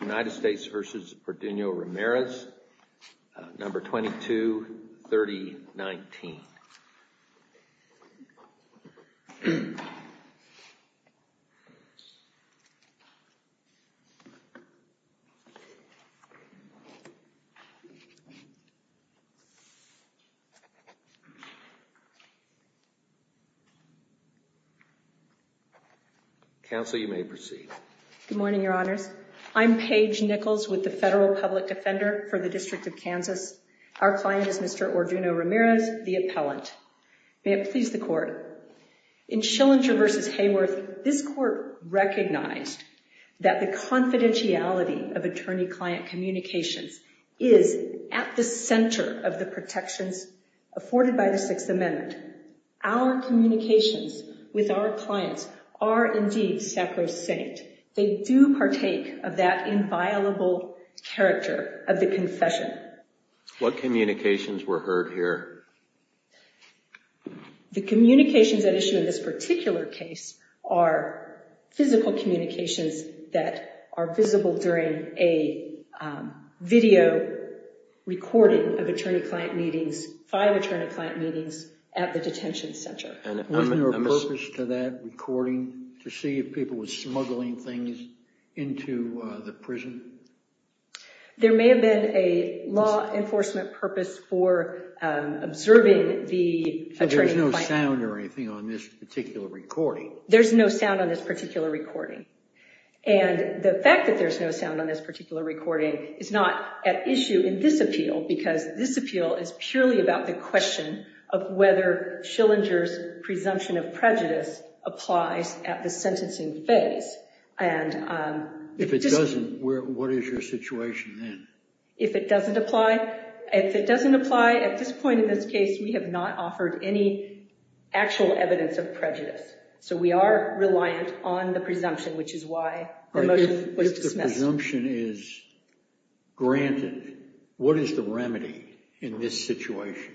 United States v. Orduno-Ramirez, number 223019. Counsel, you may proceed. Good morning, your honors. I'm Paige Nichols with the Federal Public Defender for the District of Kansas. Our client is Mr. Orduno-Ramirez, the appellant. May it please the court. In Schillinger v. Hayworth, this court recognized that the confidentiality of attorney-client communications is at the center of the protections afforded by the Sixth Amendment. Our communications with our clients are indeed sacrosanct. They do partake of that inviolable character of the confession. What communications were heard here? The communications at issue in this particular case are physical communications that are visible during a video recording of attorney-client meetings, five attorney-client meetings at the detention center. Wasn't there a purpose to that recording to see if people were smuggling things into the prison? There may have been a law enforcement purpose for observing the attorney-client. So there's no sound or anything on this particular recording? There's no sound on this particular recording. And the fact that there's no sound on this particular recording is not at issue in this appeal because this appeal is purely about the question of whether Schillinger's presumption of prejudice applies at the sentencing phase. If it doesn't, what is your situation then? If it doesn't apply, at this point in this case, we have not offered any actual evidence of prejudice. So we are reliant on the presumption, which is why the motion was dismissed. If the presumption is granted, what is the remedy in this situation?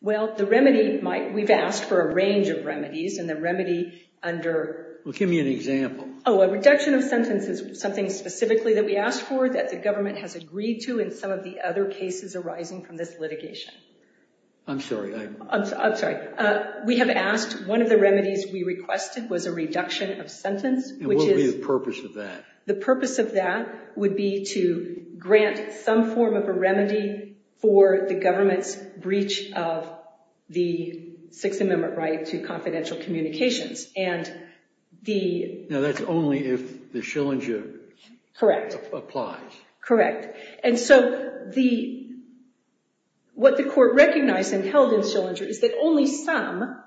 Well, the remedy might... We've asked for a range of remedies and the remedy under... Well, give me an example. Oh, a reduction of sentence is something specifically that we asked for that the government has agreed to in some of the other cases arising from this litigation. I'm sorry. I'm sorry. We have asked... One of the remedies we requested was a reduction of sentence, which is... And what would be the purpose of that? The purpose of that would be to grant some form of a remedy for the government's breach of the Sixth Amendment right to confidential communications. And the... Now, that's only if the Schillinger... Correct. ...applies. Correct. And so what the court recognized and held in Schillinger is that only some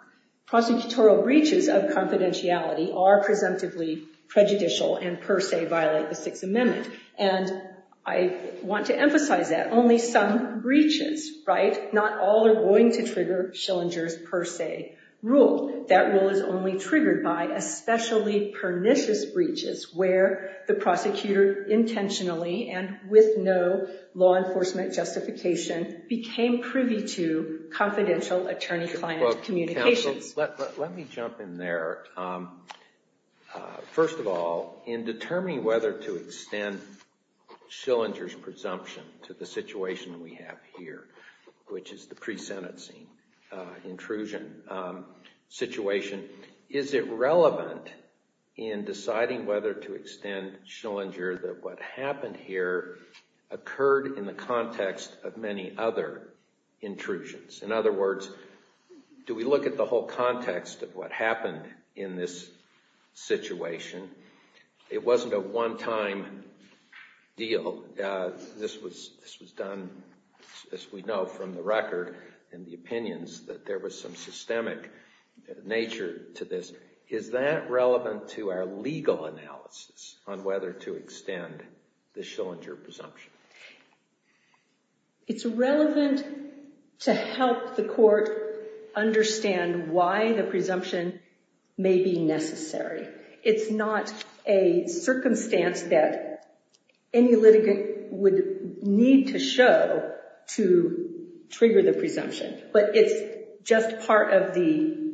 prosecutorial breaches of confidentiality are presumptively prejudicial and per se violate the Sixth Amendment. And I want to emphasize that. Only some breaches, right? Not all are going to trigger Schillinger's per se rule. That rule is only triggered by especially pernicious breaches where the prosecutor intentionally and with no law enforcement justification became privy to confidential attorney-client communications. Well, counsel, let me jump in there. First of all, in determining whether to extend Schillinger's presumption to the situation we have here, which is the pre-sentencing intrusion situation, is it relevant in deciding whether to extend Schillinger that what happened here occurred in the context of many other intrusions? In other words, do we look at the whole context of what happened in this situation? It wasn't a one-time deal. This was done, as we know from the record and the opinions, that there was some systemic nature to this. Is that relevant to our legal analysis on whether to extend the Schillinger presumption? It's relevant to help the court understand why the presumption may be necessary. It's not a circumstance that any litigant would need to show to trigger the presumption, but it's just part of the...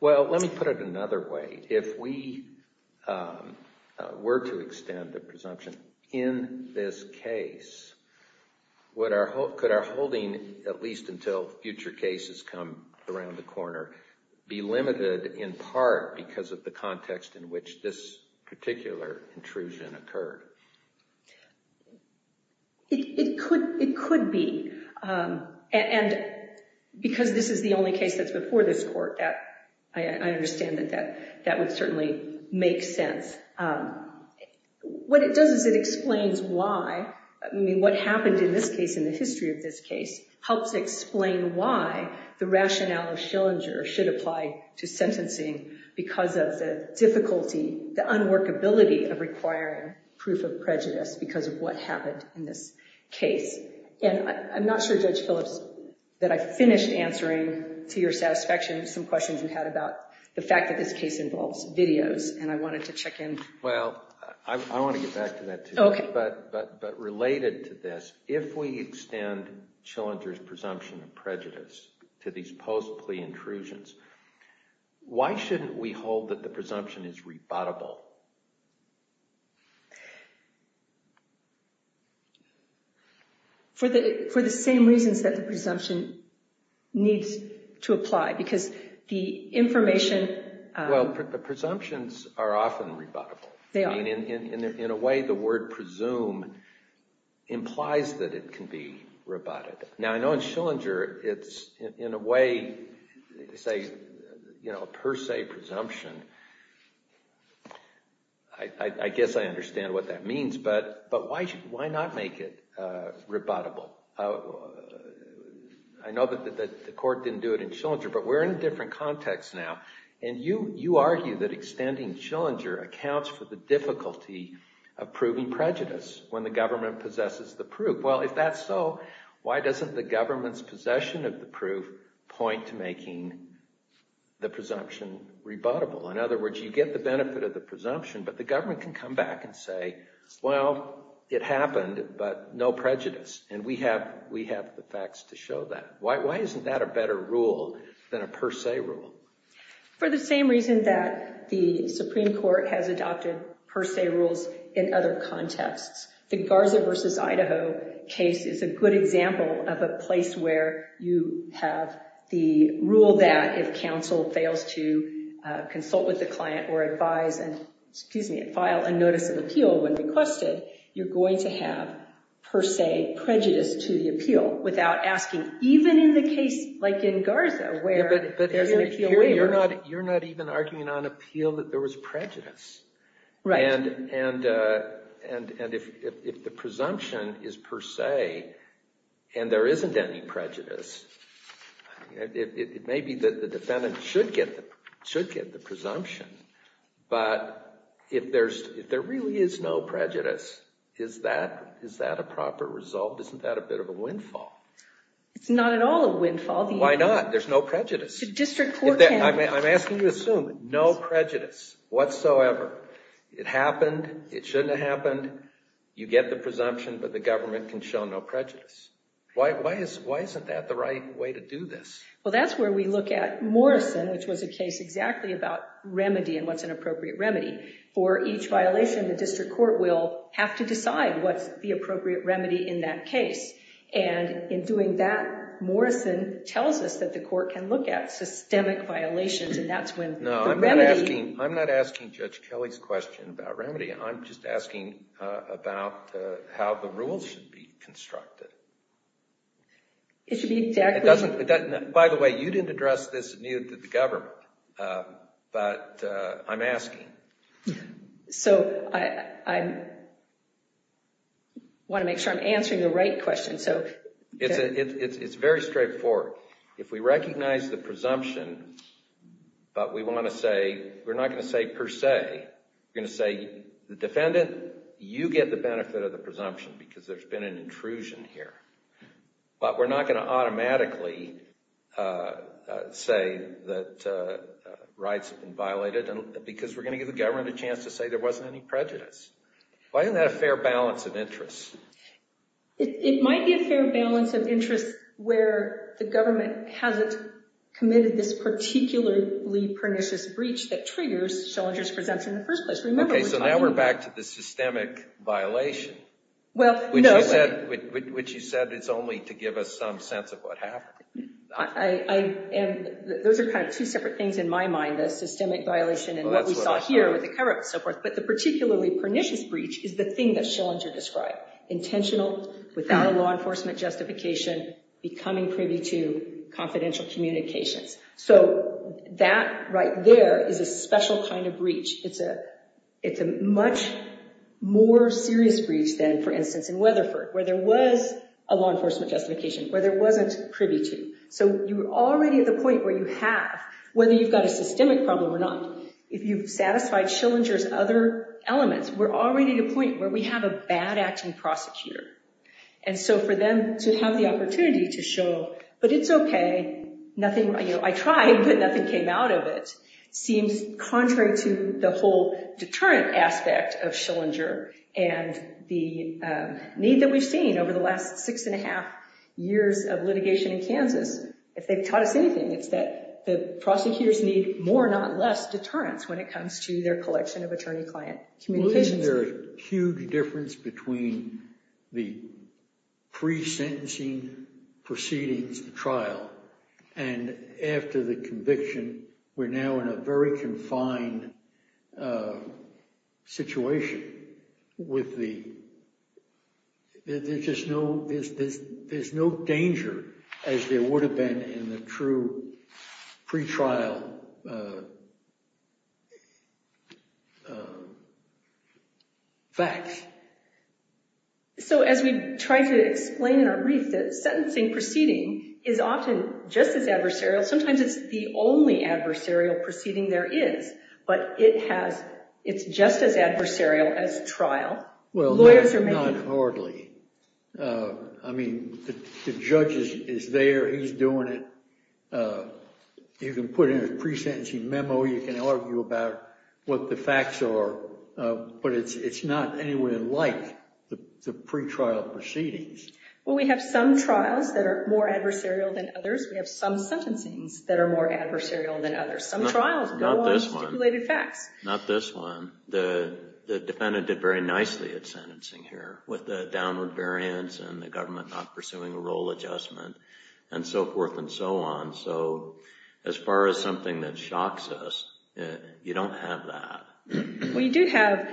Well, let me put it another way. If we were to extend the presumption in this case, could our holding, at least until future cases come around the corner, be limited in part because of the context in which this particular intrusion occurred? It could be, and because this is the only case that's before this court, I understand that would certainly make sense. What it does is it explains why, I mean, what happened in this case, in the history of this case, helps explain why the rationale of Schillinger should apply to sentencing because of the difficulty, the unworkability of requiring proof of prejudice because of what happened in this case. And I'm not sure, Judge Phillips, that I finished answering to your satisfaction some of the fact that this case involves videos, and I wanted to check in. Well, I want to get back to that, too, but related to this, if we extend Schillinger's presumption of prejudice to these post-plea intrusions, why shouldn't we hold that the presumption is rebuttable? For the same reasons that the presumption needs to apply, because the information... Well, the presumptions are often rebuttable. They are. I mean, in a way, the word presume implies that it can be rebutted. Now, I know in Schillinger it's, in a way, say, you know, a per se presumption, but I guess I understand what that means, but why not make it rebuttable? I know that the court didn't do it in Schillinger, but we're in a different context now, and you argue that extending Schillinger accounts for the difficulty of proving prejudice when the government possesses the proof. Well, if that's so, why doesn't the government's possession of the proof point to making the presumption rebuttable? In other words, you get the benefit of the presumption, but the government can come back and say, well, it happened, but no prejudice, and we have the facts to show that. Why isn't that a better rule than a per se rule? For the same reason that the Supreme Court has adopted per se rules in other contexts. The Garza v. Idaho case is a good example of a place where you have the rule that if counsel fails to consult with the client or advise and, excuse me, file a notice of appeal when requested, you're going to have per se prejudice to the appeal without asking, even in the case, like in Garza, where you're an appeal waiver. You're not even arguing on appeal that there was prejudice. Right. And if the presumption is per se and there isn't any prejudice, it may be that the defendant should get the presumption. But if there really is no prejudice, is that a proper result? Isn't that a bit of a windfall? It's not at all a windfall. Why not? There's no prejudice. I'm asking you to assume no prejudice whatsoever. It happened. It shouldn't have happened. You get the presumption, but the government can show no prejudice. Why isn't that the right way to do this? Well, that's where we look at Morrison, which was a case exactly about remedy and what's an appropriate remedy. For each violation, the district court will have to decide what's the appropriate remedy in that case. And in doing that, Morrison tells us that the court can look at systemic violations, and that's when the remedy— No, I'm not asking Judge Kelly's question about remedy. I'm just asking about how the rules should be constructed. It should be exactly— By the way, you didn't address this new to the government, but I'm asking. So I want to make sure I'm answering the right question. It's very straightforward. If we recognize the presumption, but we want to say—we're not going to say per se. We're going to say, the defendant, you get the benefit of the presumption because there's been an intrusion here. But we're not going to automatically say that rights have been violated because we're going to give the government a chance to say there wasn't any prejudice. Why isn't that a fair balance of interests? It might be a fair balance of interests where the government hasn't committed this particularly pernicious breach that triggers Schillinger's presumption in the first place. Remember, we're talking about— Okay, so now we're back to the systemic violation. Well, no— Which you said is only to give us some sense of what happened. Those are kind of two separate things in my mind, the systemic violation and what we saw here with the cover-up and so forth. But the particularly pernicious breach is the thing that Schillinger described. Intentional, without a law enforcement justification, becoming privy to confidential communications. So that right there is a special kind of breach. It's a much more serious breach than, for instance, in Weatherford, where there was a law enforcement justification, where there wasn't privy to. So you're already at the point where you have, whether you've got a systemic problem or not, if you've satisfied Schillinger's other elements, we're already at a point where we have a bad-acting prosecutor. And so for them to have the opportunity to show, but it's okay, I tried, but nothing came out of it, seems contrary to the whole deterrent aspect of Schillinger and the need that we've seen over the last six and a half years of litigation in Kansas. If they've taught us anything, it's that the prosecutors need more, not less deterrents when it comes to their collection of attorney-client communications. Isn't there a huge difference between the pre-sentencing proceedings, the trial, and after the conviction? We're now in a very confined situation with the, there's just no, there's no danger as there would have been in the true pre-trial facts. So as we try to explain in our brief, the sentencing proceeding is often just as adversarial. Sometimes it's the only adversarial proceeding there is, but it has, it's just as adversarial as trial. Well, not hardly. I mean, the judge is there, he's doing it. You can put in a pre-sentencing memo, you can argue about what the facts are, but it's not anywhere like the pre-trial proceedings. Well, we have some trials that are more adversarial than others. We have some sentencings that are more adversarial than others. Some trials go on stipulated facts. Not this one. The defendant did very nicely at sentencing here with the downward variance and the government not pursuing a role adjustment and so forth and so on. So as far as something that shocks us, you don't have that. We do have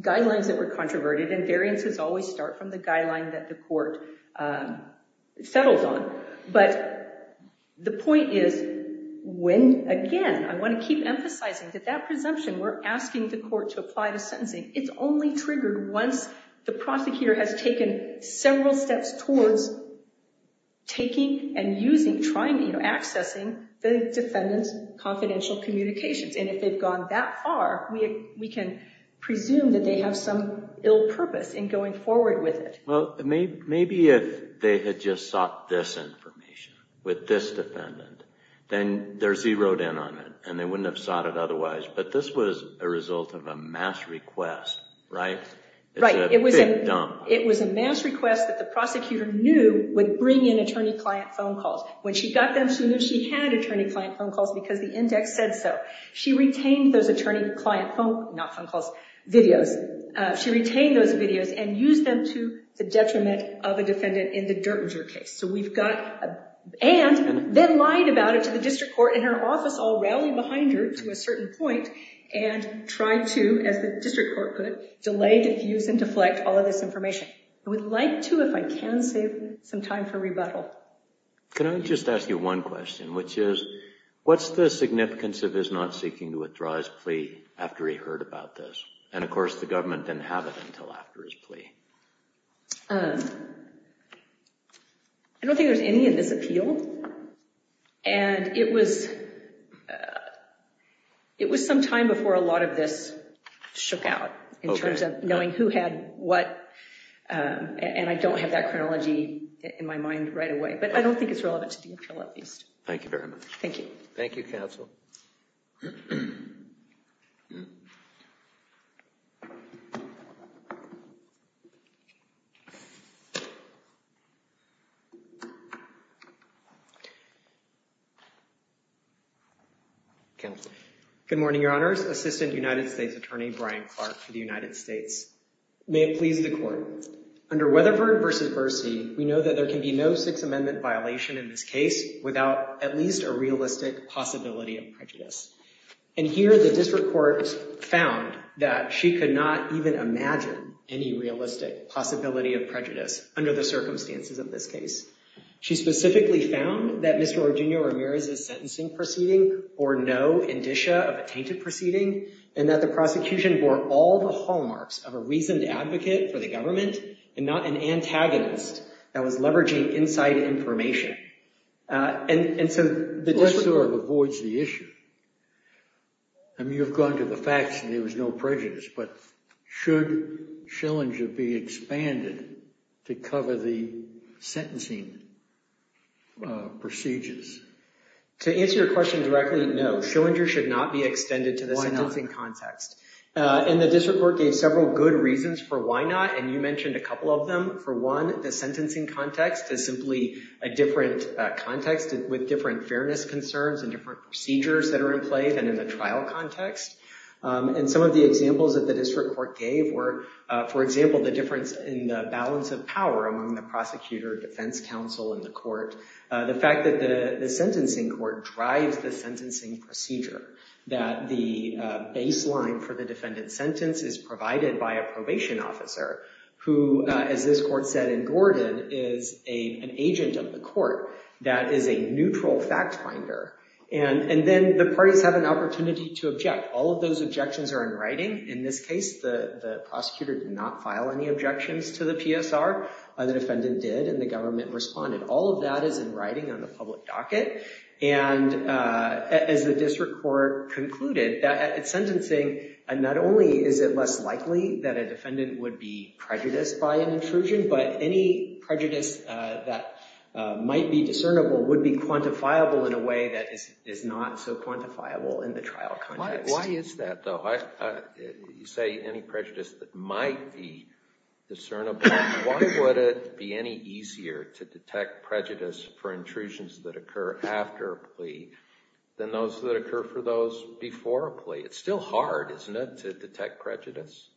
guidelines that were controverted and variances always start from the guideline that the court settles on. But the point is when, again, I want to keep emphasizing that that presumption we're asking the court to apply to sentencing, it's only triggered once the prosecutor has taken several steps towards taking and using, trying, accessing the defendant's confidential communications. And if they've gone that far, we can presume that they have some ill purpose in going forward with it. Well, maybe if they had just sought this information with this defendant, then they're zeroed in on it and they wouldn't have sought it otherwise. But this was a result of a mass request, right? Right. It was a mass request that the prosecutor knew would bring in attorney-client phone calls. When she got them, she knew she had attorney-client phone calls because the index said so. She retained those attorney-client phone, not phone calls, videos. She retained those videos and used them to the detriment of a defendant in the Dertinger case. So we've got, and then lied about it to the district court in her office, all rallying behind her to a certain point, and tried to, as the district court could, delay, diffuse, and deflect all of this information. I would like to, if I can, save some time for rebuttal. Can I just ask you one question, which is, what's the significance of his not seeking to withdraw his plea after he heard about this? And of course, the government didn't have it until after his plea. I don't think there's any in this appeal. And it was some time before a lot of this shook out in terms of knowing who had what. And I don't have that chronology in my mind right away. But I don't think it's relevant to the appeal, at least. Thank you very much. Thank you. Thank you, counsel. Counsel. Good morning, Your Honors. Assistant United States Attorney Brian Clark for the United States. May it please the Court. Under Weatherford v. Bercy, we know that there can be no Sixth Amendment violation in this case without at least a realistic possibility of prejudice. And here, the district court found that she could not even imagine any realistic possibility of prejudice under the circumstances of this case. She specifically found that Mr. Eugenio Ramirez's sentencing proceeding bore no indicia of a reasoned advocate for the government and not an antagonist that was leveraging inside information. And so the district court... The district court avoids the issue. I mean, you've gone to the facts and there was no prejudice. But should Schillinger be expanded to cover the sentencing procedures? To answer your question directly, no. Schillinger should not be extended to the sentencing context. And the district court gave several good reasons for why not. And you mentioned a couple of them. For one, the sentencing context is simply a different context with different fairness concerns and different procedures that are in play than in the trial context. And some of the examples that the district court gave were, for example, the difference in the balance of power among the prosecutor, defense counsel, and the court. The fact that the sentencing court drives the sentencing procedure, that the baseline for the defendant's sentence is provided by a probation officer who, as this court said in Gordon, is an agent of the court that is a neutral fact finder. And then the parties have an opportunity to object. All of those objections are in writing. In this case, the prosecutor did not file any objections to the PSR. The defendant did and the government responded. All of that is in writing on the public docket. And as the district court concluded, that sentencing, not only is it less likely that a defendant would be prejudiced by an intrusion, but any prejudice that might be discernible would be quantifiable in a way that is not so quantifiable in the trial context. Why is that, though? You say any prejudice that might be discernible. Why would it be any easier to detect prejudice for intrusions that occur after a plea than those that occur for those before a plea? It's still hard, isn't it, to detect prejudice?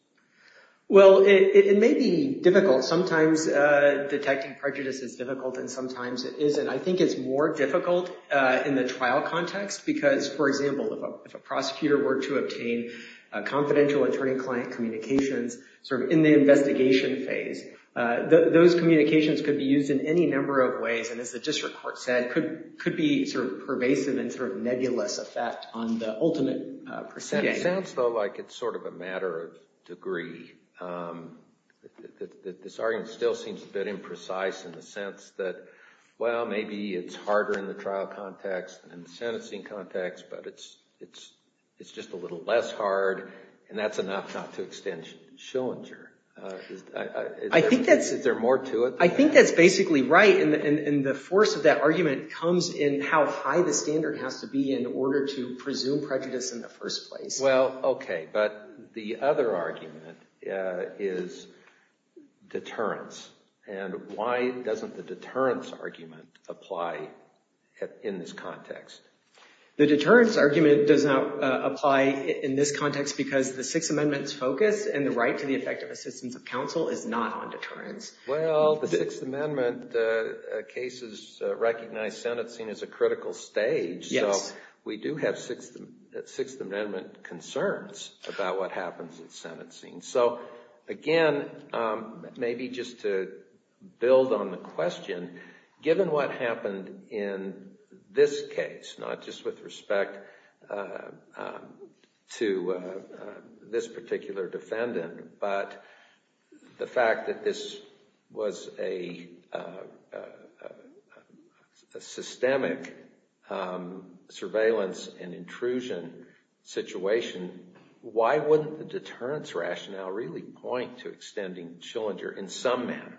Well, it may be difficult. Sometimes detecting prejudice is difficult and sometimes it isn't. I think it's more difficult in the trial context because, for example, if a prosecutor were to obtain confidential attorney-client communications in the investigation phase, those communications could be used in any number of ways and, as the district court said, could be pervasive and nebulous effect on the ultimate proceeding. It sounds, though, like it's sort of a matter of degree. This argument still seems a bit imprecise in the sense that, well, maybe it's harder in the trial context than the sentencing context, but it's just a little less hard and that's enough not to extend Schillinger. Is there more to it? I think that's basically right and the force of that argument comes in how high the standard has to be in order to presume prejudice in the first place. Well, OK. But the other argument is deterrence. And why doesn't the deterrence argument apply in this context? The deterrence argument does not apply in this context because the Sixth Amendment's focus and the right to the effective assistance of counsel is not on deterrence. Well, the Sixth Amendment cases recognize sentencing as a critical stage, so we do have Sixth Amendment concerns about what happens in sentencing. So, again, maybe just to build on the question, given what happened in this case, not just with respect to this particular defendant, but the fact that this was a systemic surveillance and intrusion situation, why wouldn't the deterrence rationale really point to extending Schillinger in some manner?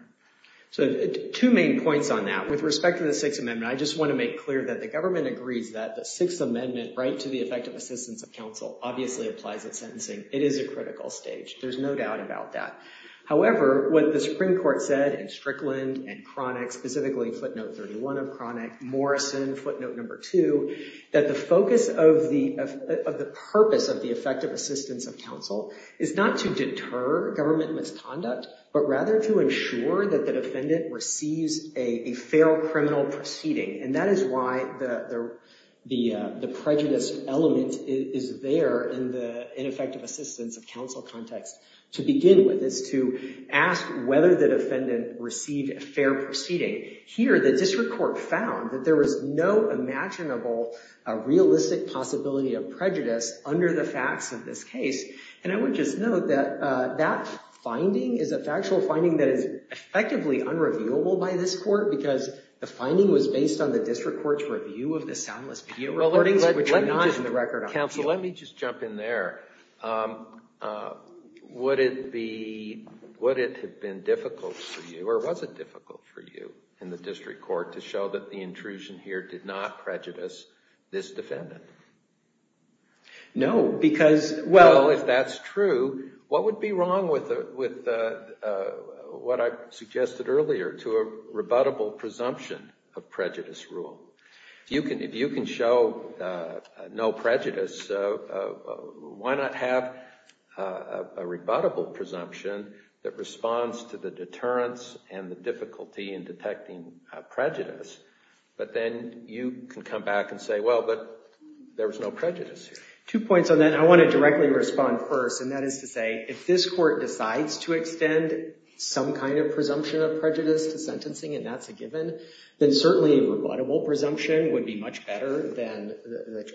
So, two main points on that. With respect to the Sixth Amendment, I just want to make clear that the government agrees that the Sixth Amendment right to the effective assistance of counsel obviously applies at sentencing. It is a critical stage. There's no doubt about that. However, what the Supreme Court said in Strickland and Cronick, specifically footnote 31 of the purpose of the effective assistance of counsel is not to deter government misconduct, but rather to ensure that the defendant receives a fair criminal proceeding. And that is why the prejudice element is there in the ineffective assistance of counsel context. To begin with, it's to ask whether the defendant received a fair proceeding. Here, the district court found that there was no imaginable realistic possibility of prejudice under the facts of this case. And I would just note that that finding is a factual finding that is effectively unreviewable by this court because the finding was based on the district court's review of the soundless video recordings, which are not in the record on here. Counsel, let me just jump in there. Would it have been difficult for you, or was it difficult for you? In the district court to show that the intrusion here did not prejudice this defendant? No, because well, if that's true, what would be wrong with what I suggested earlier to a rebuttable presumption of prejudice rule? If you can show no prejudice, why not have a rebuttable presumption that responds to the deterrence and the difficulty in detecting prejudice? But then you can come back and say, well, but there was no prejudice here. Two points on that. I want to directly respond first. And that is to say, if this court decides to extend some kind of presumption of prejudice to sentencing, and that's a given, then certainly a rebuttable presumption would be much better than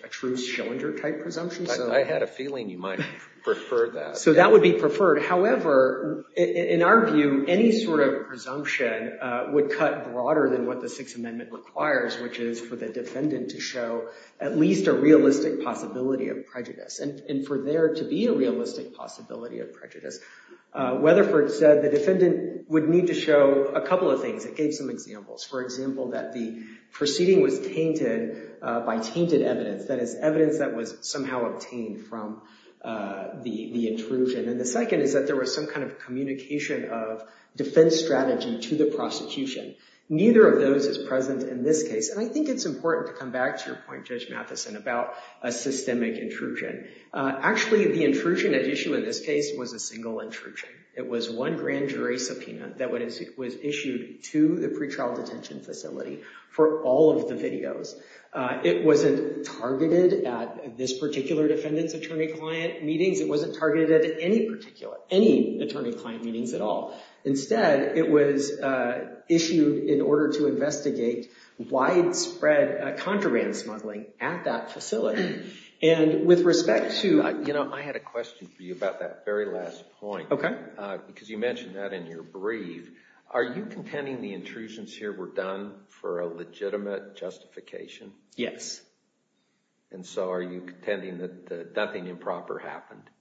a true Schillinger-type presumption. I had a feeling you might prefer that. So that would be preferred. However, in our view, any sort of presumption would cut broader than what the Sixth Amendment requires, which is for the defendant to show at least a realistic possibility of prejudice. And for there to be a realistic possibility of prejudice, Weatherford said the defendant would need to show a couple of things. It gave some examples. For example, that the proceeding was tainted by tainted evidence. That is, evidence that was somehow obtained from the intrusion. And the second is that there was some kind of communication of defense strategy to the prosecution. Neither of those is present in this case. And I think it's important to come back to your point, Judge Matheson, about a systemic intrusion. Actually, the intrusion at issue in this case was a single intrusion. It was one grand jury subpoena that was issued to the pretrial detention facility for all of the videos. It wasn't targeted at this particular defendant's attorney-client meetings. It wasn't targeted at any particular, any attorney-client meetings at all. Instead, it was issued in order to investigate widespread contraband smuggling at that facility. And with respect to— You know, I had a question for you about that very last point. Okay. Because you mentioned that in your brief. Are you contending the intrusions here were done for a legitimate justification? Yes. And so are you contending that nothing improper happened? No.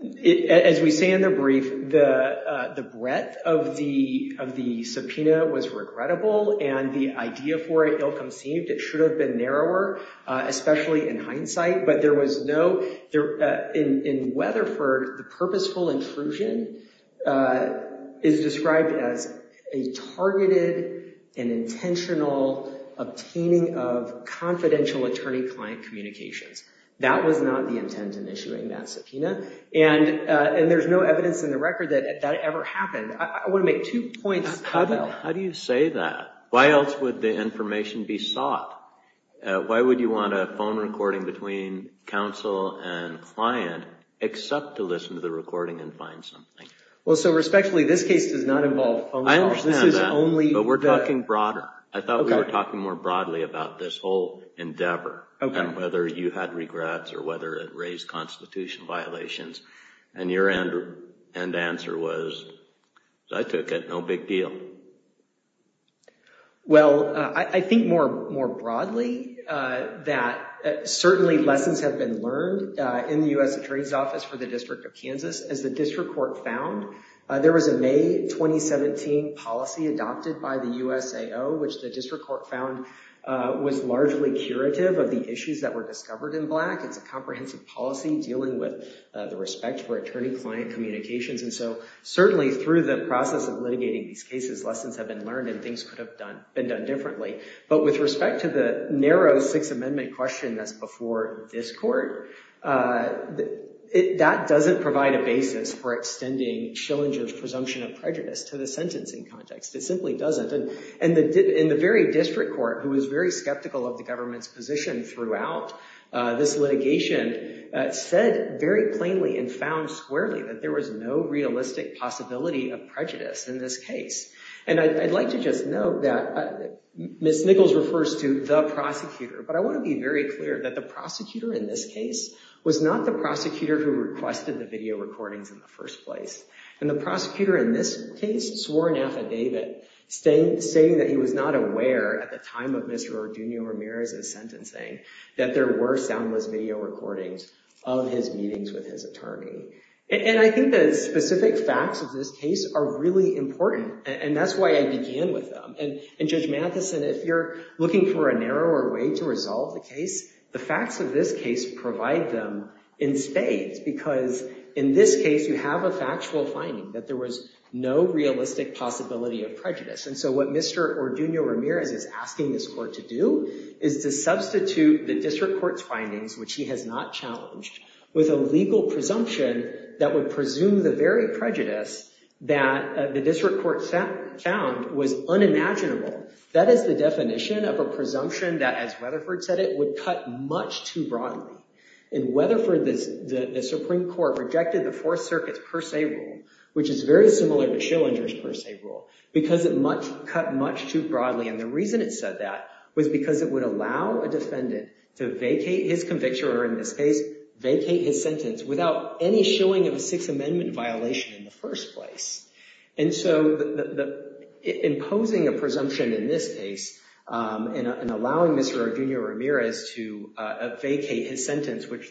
As we say in the brief, the breadth of the subpoena was regrettable. And the idea for it, ill-conceived, it should have been narrower, especially in hindsight. But there was no— In Weatherford, the purposeful intrusion is described as a targeted and intentional obtaining of confidential attorney-client communications. That was not the intent in issuing that subpoena. And there's no evidence in the record that that ever happened. I want to make two points about— How do you say that? Why else would the information be sought? Why would you want a phone recording between counsel and client, except to listen to the recording and find something? Well, so respectfully, this case does not involve phone calls. I understand that. But we're talking broader. I thought we were talking more broadly about this whole endeavor. Okay. Whether you had regrets or whether it raised constitutional violations. And your end answer was, I took it. No big deal. Well, I think more broadly that certainly lessons have been learned in the U.S. Attorney's Office for the District of Kansas. As the District Court found, there was a May 2017 policy adopted by the USAO, which the District Court found was largely curative of the issues that were discovered in Black. It's a comprehensive policy dealing with the respect for attorney-client communications. And so certainly through the process of litigating these cases, lessons have been learned and things could have been done differently. But with respect to the narrow Sixth Amendment question that's before this Court, that doesn't provide a basis for extending Shillinger's presumption of prejudice to the sentencing context. It simply doesn't. And in the very District Court, who was very skeptical of the government's position throughout this litigation, said very plainly and found squarely that there was no realistic possibility of prejudice in this case. And I'd like to just note that Ms. Nichols refers to the prosecutor. But I want to be very clear that the prosecutor in this case was not the prosecutor who requested the video recordings in the first place. And the prosecutor in this case swore an affidavit stating that he was not aware at the time of Mr. Orduno Ramirez's sentencing that there were soundless video recordings of his meetings with his attorney. And I think the specific facts of this case are really important. And that's why I began with them. And Judge Mathison, if you're looking for a narrower way to resolve the case, the facts of this case provide them in spades. Because in this case, you have a factual finding that there was no realistic possibility of prejudice. And so what Mr. Orduno Ramirez is asking this court to do is to substitute the District Court's findings, which he has not challenged, with a legal presumption that would presume the very prejudice that the District Court found was unimaginable. That is the definition of a presumption that, as Weatherford said it, would cut much too broadly. And Weatherford, the Supreme Court, rejected the Fourth Circuit's per se rule, which is very similar to Schillinger's per se rule, because it cut much too broadly. And the reason it said that was because it would allow a defendant to vacate his conviction, or in this case, vacate his sentence, without any showing of a Sixth Amendment violation in the first place. And so imposing a presumption in this case which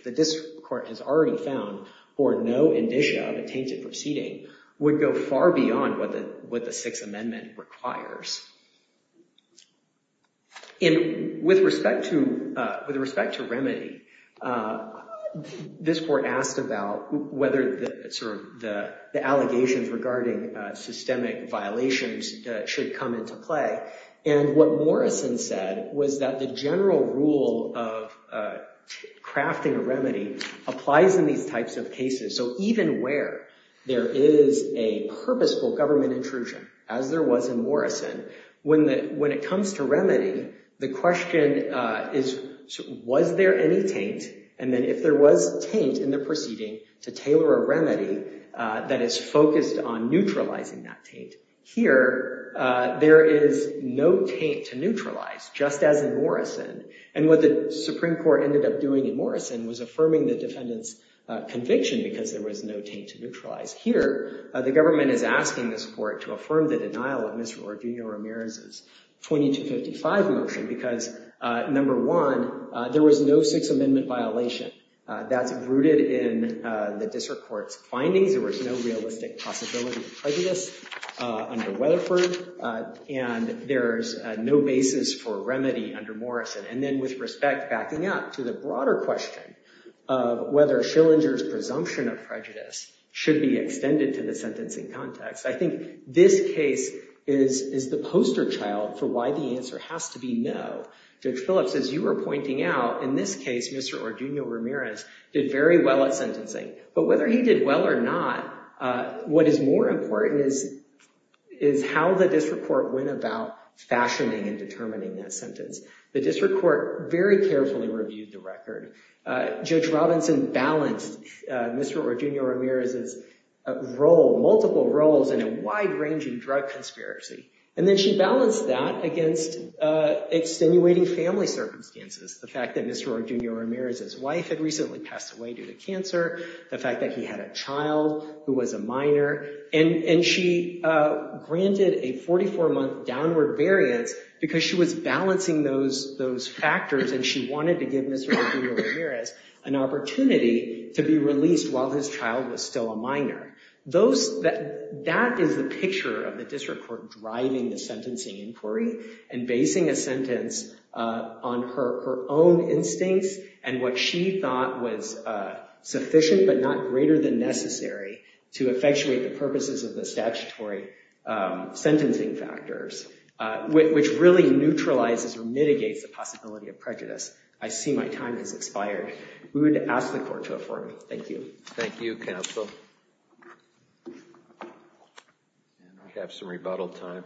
the District Court has already found for no indicia of a tainted proceeding would go far beyond what the Sixth Amendment requires. And with respect to remedy, this court asked about whether the allegations regarding systemic violations should come into play. And what Morrison said was that the general rule of crafting a remedy applies in these types of cases. So even where there is a purposeful government intrusion, as there was in Morrison, when it comes to remedy, the question is, was there any taint? And then if there was taint in the proceeding, to tailor a remedy that is focused on neutralizing that taint. Here, there is no taint to neutralize, just as in Morrison. And what the Supreme Court ended up doing in Morrison was affirming the defendant's conviction because there was no taint to neutralize. Here, the government is asking this court to affirm the denial of Mr. Ordillo Ramirez's 2255 motion, because number one, there was no Sixth Amendment violation. That's rooted in the District Court's findings. There was no realistic possibility of prejudice under Weatherford. And there's no basis for remedy under Morrison. And then with respect, backing up to the broader question of whether Schillinger's presumption of prejudice should be extended to the sentencing context. I think this case is the poster child for why the answer has to be no. Judge Phillips, as you were pointing out, in this case, Mr. Ordillo Ramirez did very well at sentencing. But whether he did well or not, what is more important is how the District Court went about fashioning and determining that sentence. The District Court very carefully reviewed the record. Judge Robinson balanced Mr. Ordillo Ramirez's role, multiple roles, in a wide-ranging drug conspiracy. And then she balanced that against extenuating family circumstances. The fact that Mr. Ordillo Ramirez's wife had recently passed away due to cancer. The fact that he had a child who was a minor. And she granted a 44-month downward variance because she was balancing those factors. And she wanted to give Mr. Ordillo Ramirez an opportunity to be released while his child was still a minor. That is the picture of the District Court driving the sentencing inquiry and basing a sentence on her own instincts and what she thought was sufficient but not greater than necessary to effectuate the purposes of the statutory sentencing factors. Which really neutralizes or mitigates the possibility of prejudice. I see my time has expired. We would ask the Court to affirm. Thank you. Thank you, Counsel. And I have some rebuttal time.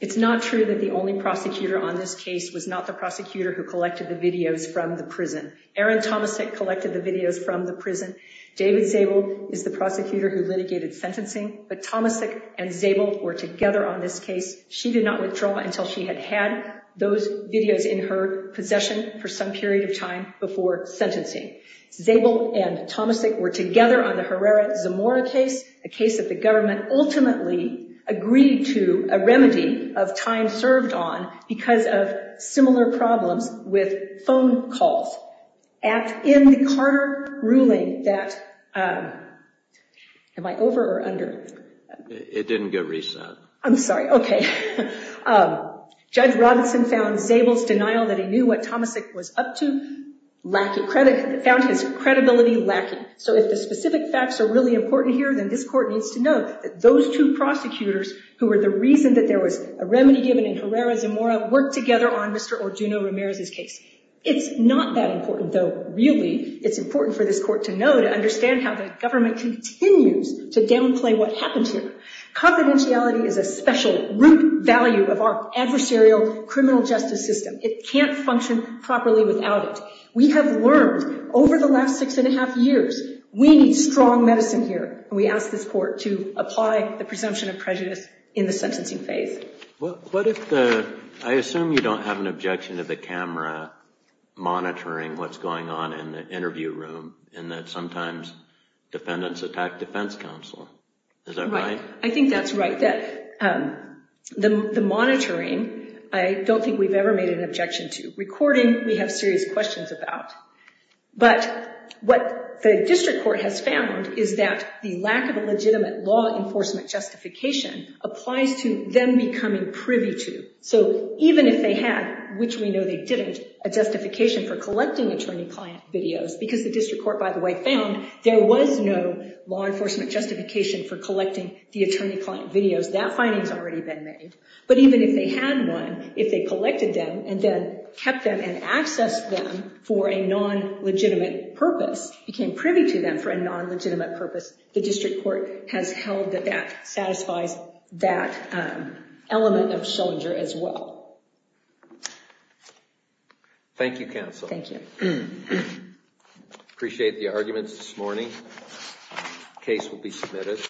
It's not true that the only prosecutor on this case was not the prosecutor who collected the videos from the prison. Erin Tomasek collected the videos from the prison. David Zabel is the prosecutor who litigated sentencing. But Tomasek and Zabel were together on this case. She did not withdraw until she had had those videos in her possession for some period of time before sentencing. Zabel and Tomasek were together on the Herrera-Zamora case. A case that the government ultimately agreed to a remedy of time served on because of similar problems with phone calls. And in the Carter ruling that... Am I over or under? It didn't get reset. I'm sorry. Okay. Judge Robinson found Zabel's denial that he knew what Tomasek was up to found his credibility lacking. So if the specific facts are really important here, then this court needs to know that those two prosecutors who were the reason that there was a remedy given in Herrera-Zamora worked together on Mr. Orduno Ramirez's case. It's not that important, though really it's important for this court to know to understand how the government continues to downplay what happened here. Confidentiality is a special root value of our adversarial criminal justice system. It can't function properly without it. We have learned over the last six and a half years, we need strong medicine here. We ask this court to apply the presumption of prejudice in the sentencing phase. What if the... I assume you don't have an objection to the camera monitoring what's going on in the interview room and that sometimes defendants attack defense counsel. Is that right? I think that's right. The monitoring, I don't think we've ever made an objection to. Recording, we have serious questions about. But what the district court has found is that the lack of a legitimate law enforcement justification applies to them becoming privy to. So even if they had, which we know they didn't, a justification for collecting attorney-client videos, because the district court, by the way, found there was no law enforcement justification for collecting the attorney-client videos. That finding's already been made. But even if they had one, if they collected them and then kept them and accessed them for a non-legitimate purpose, became privy to them for a non-legitimate purpose, the district court has held that that satisfies that element of Schillinger as well. Thank you, counsel. Thank you. Appreciate the arguments this morning. Case will be submitted.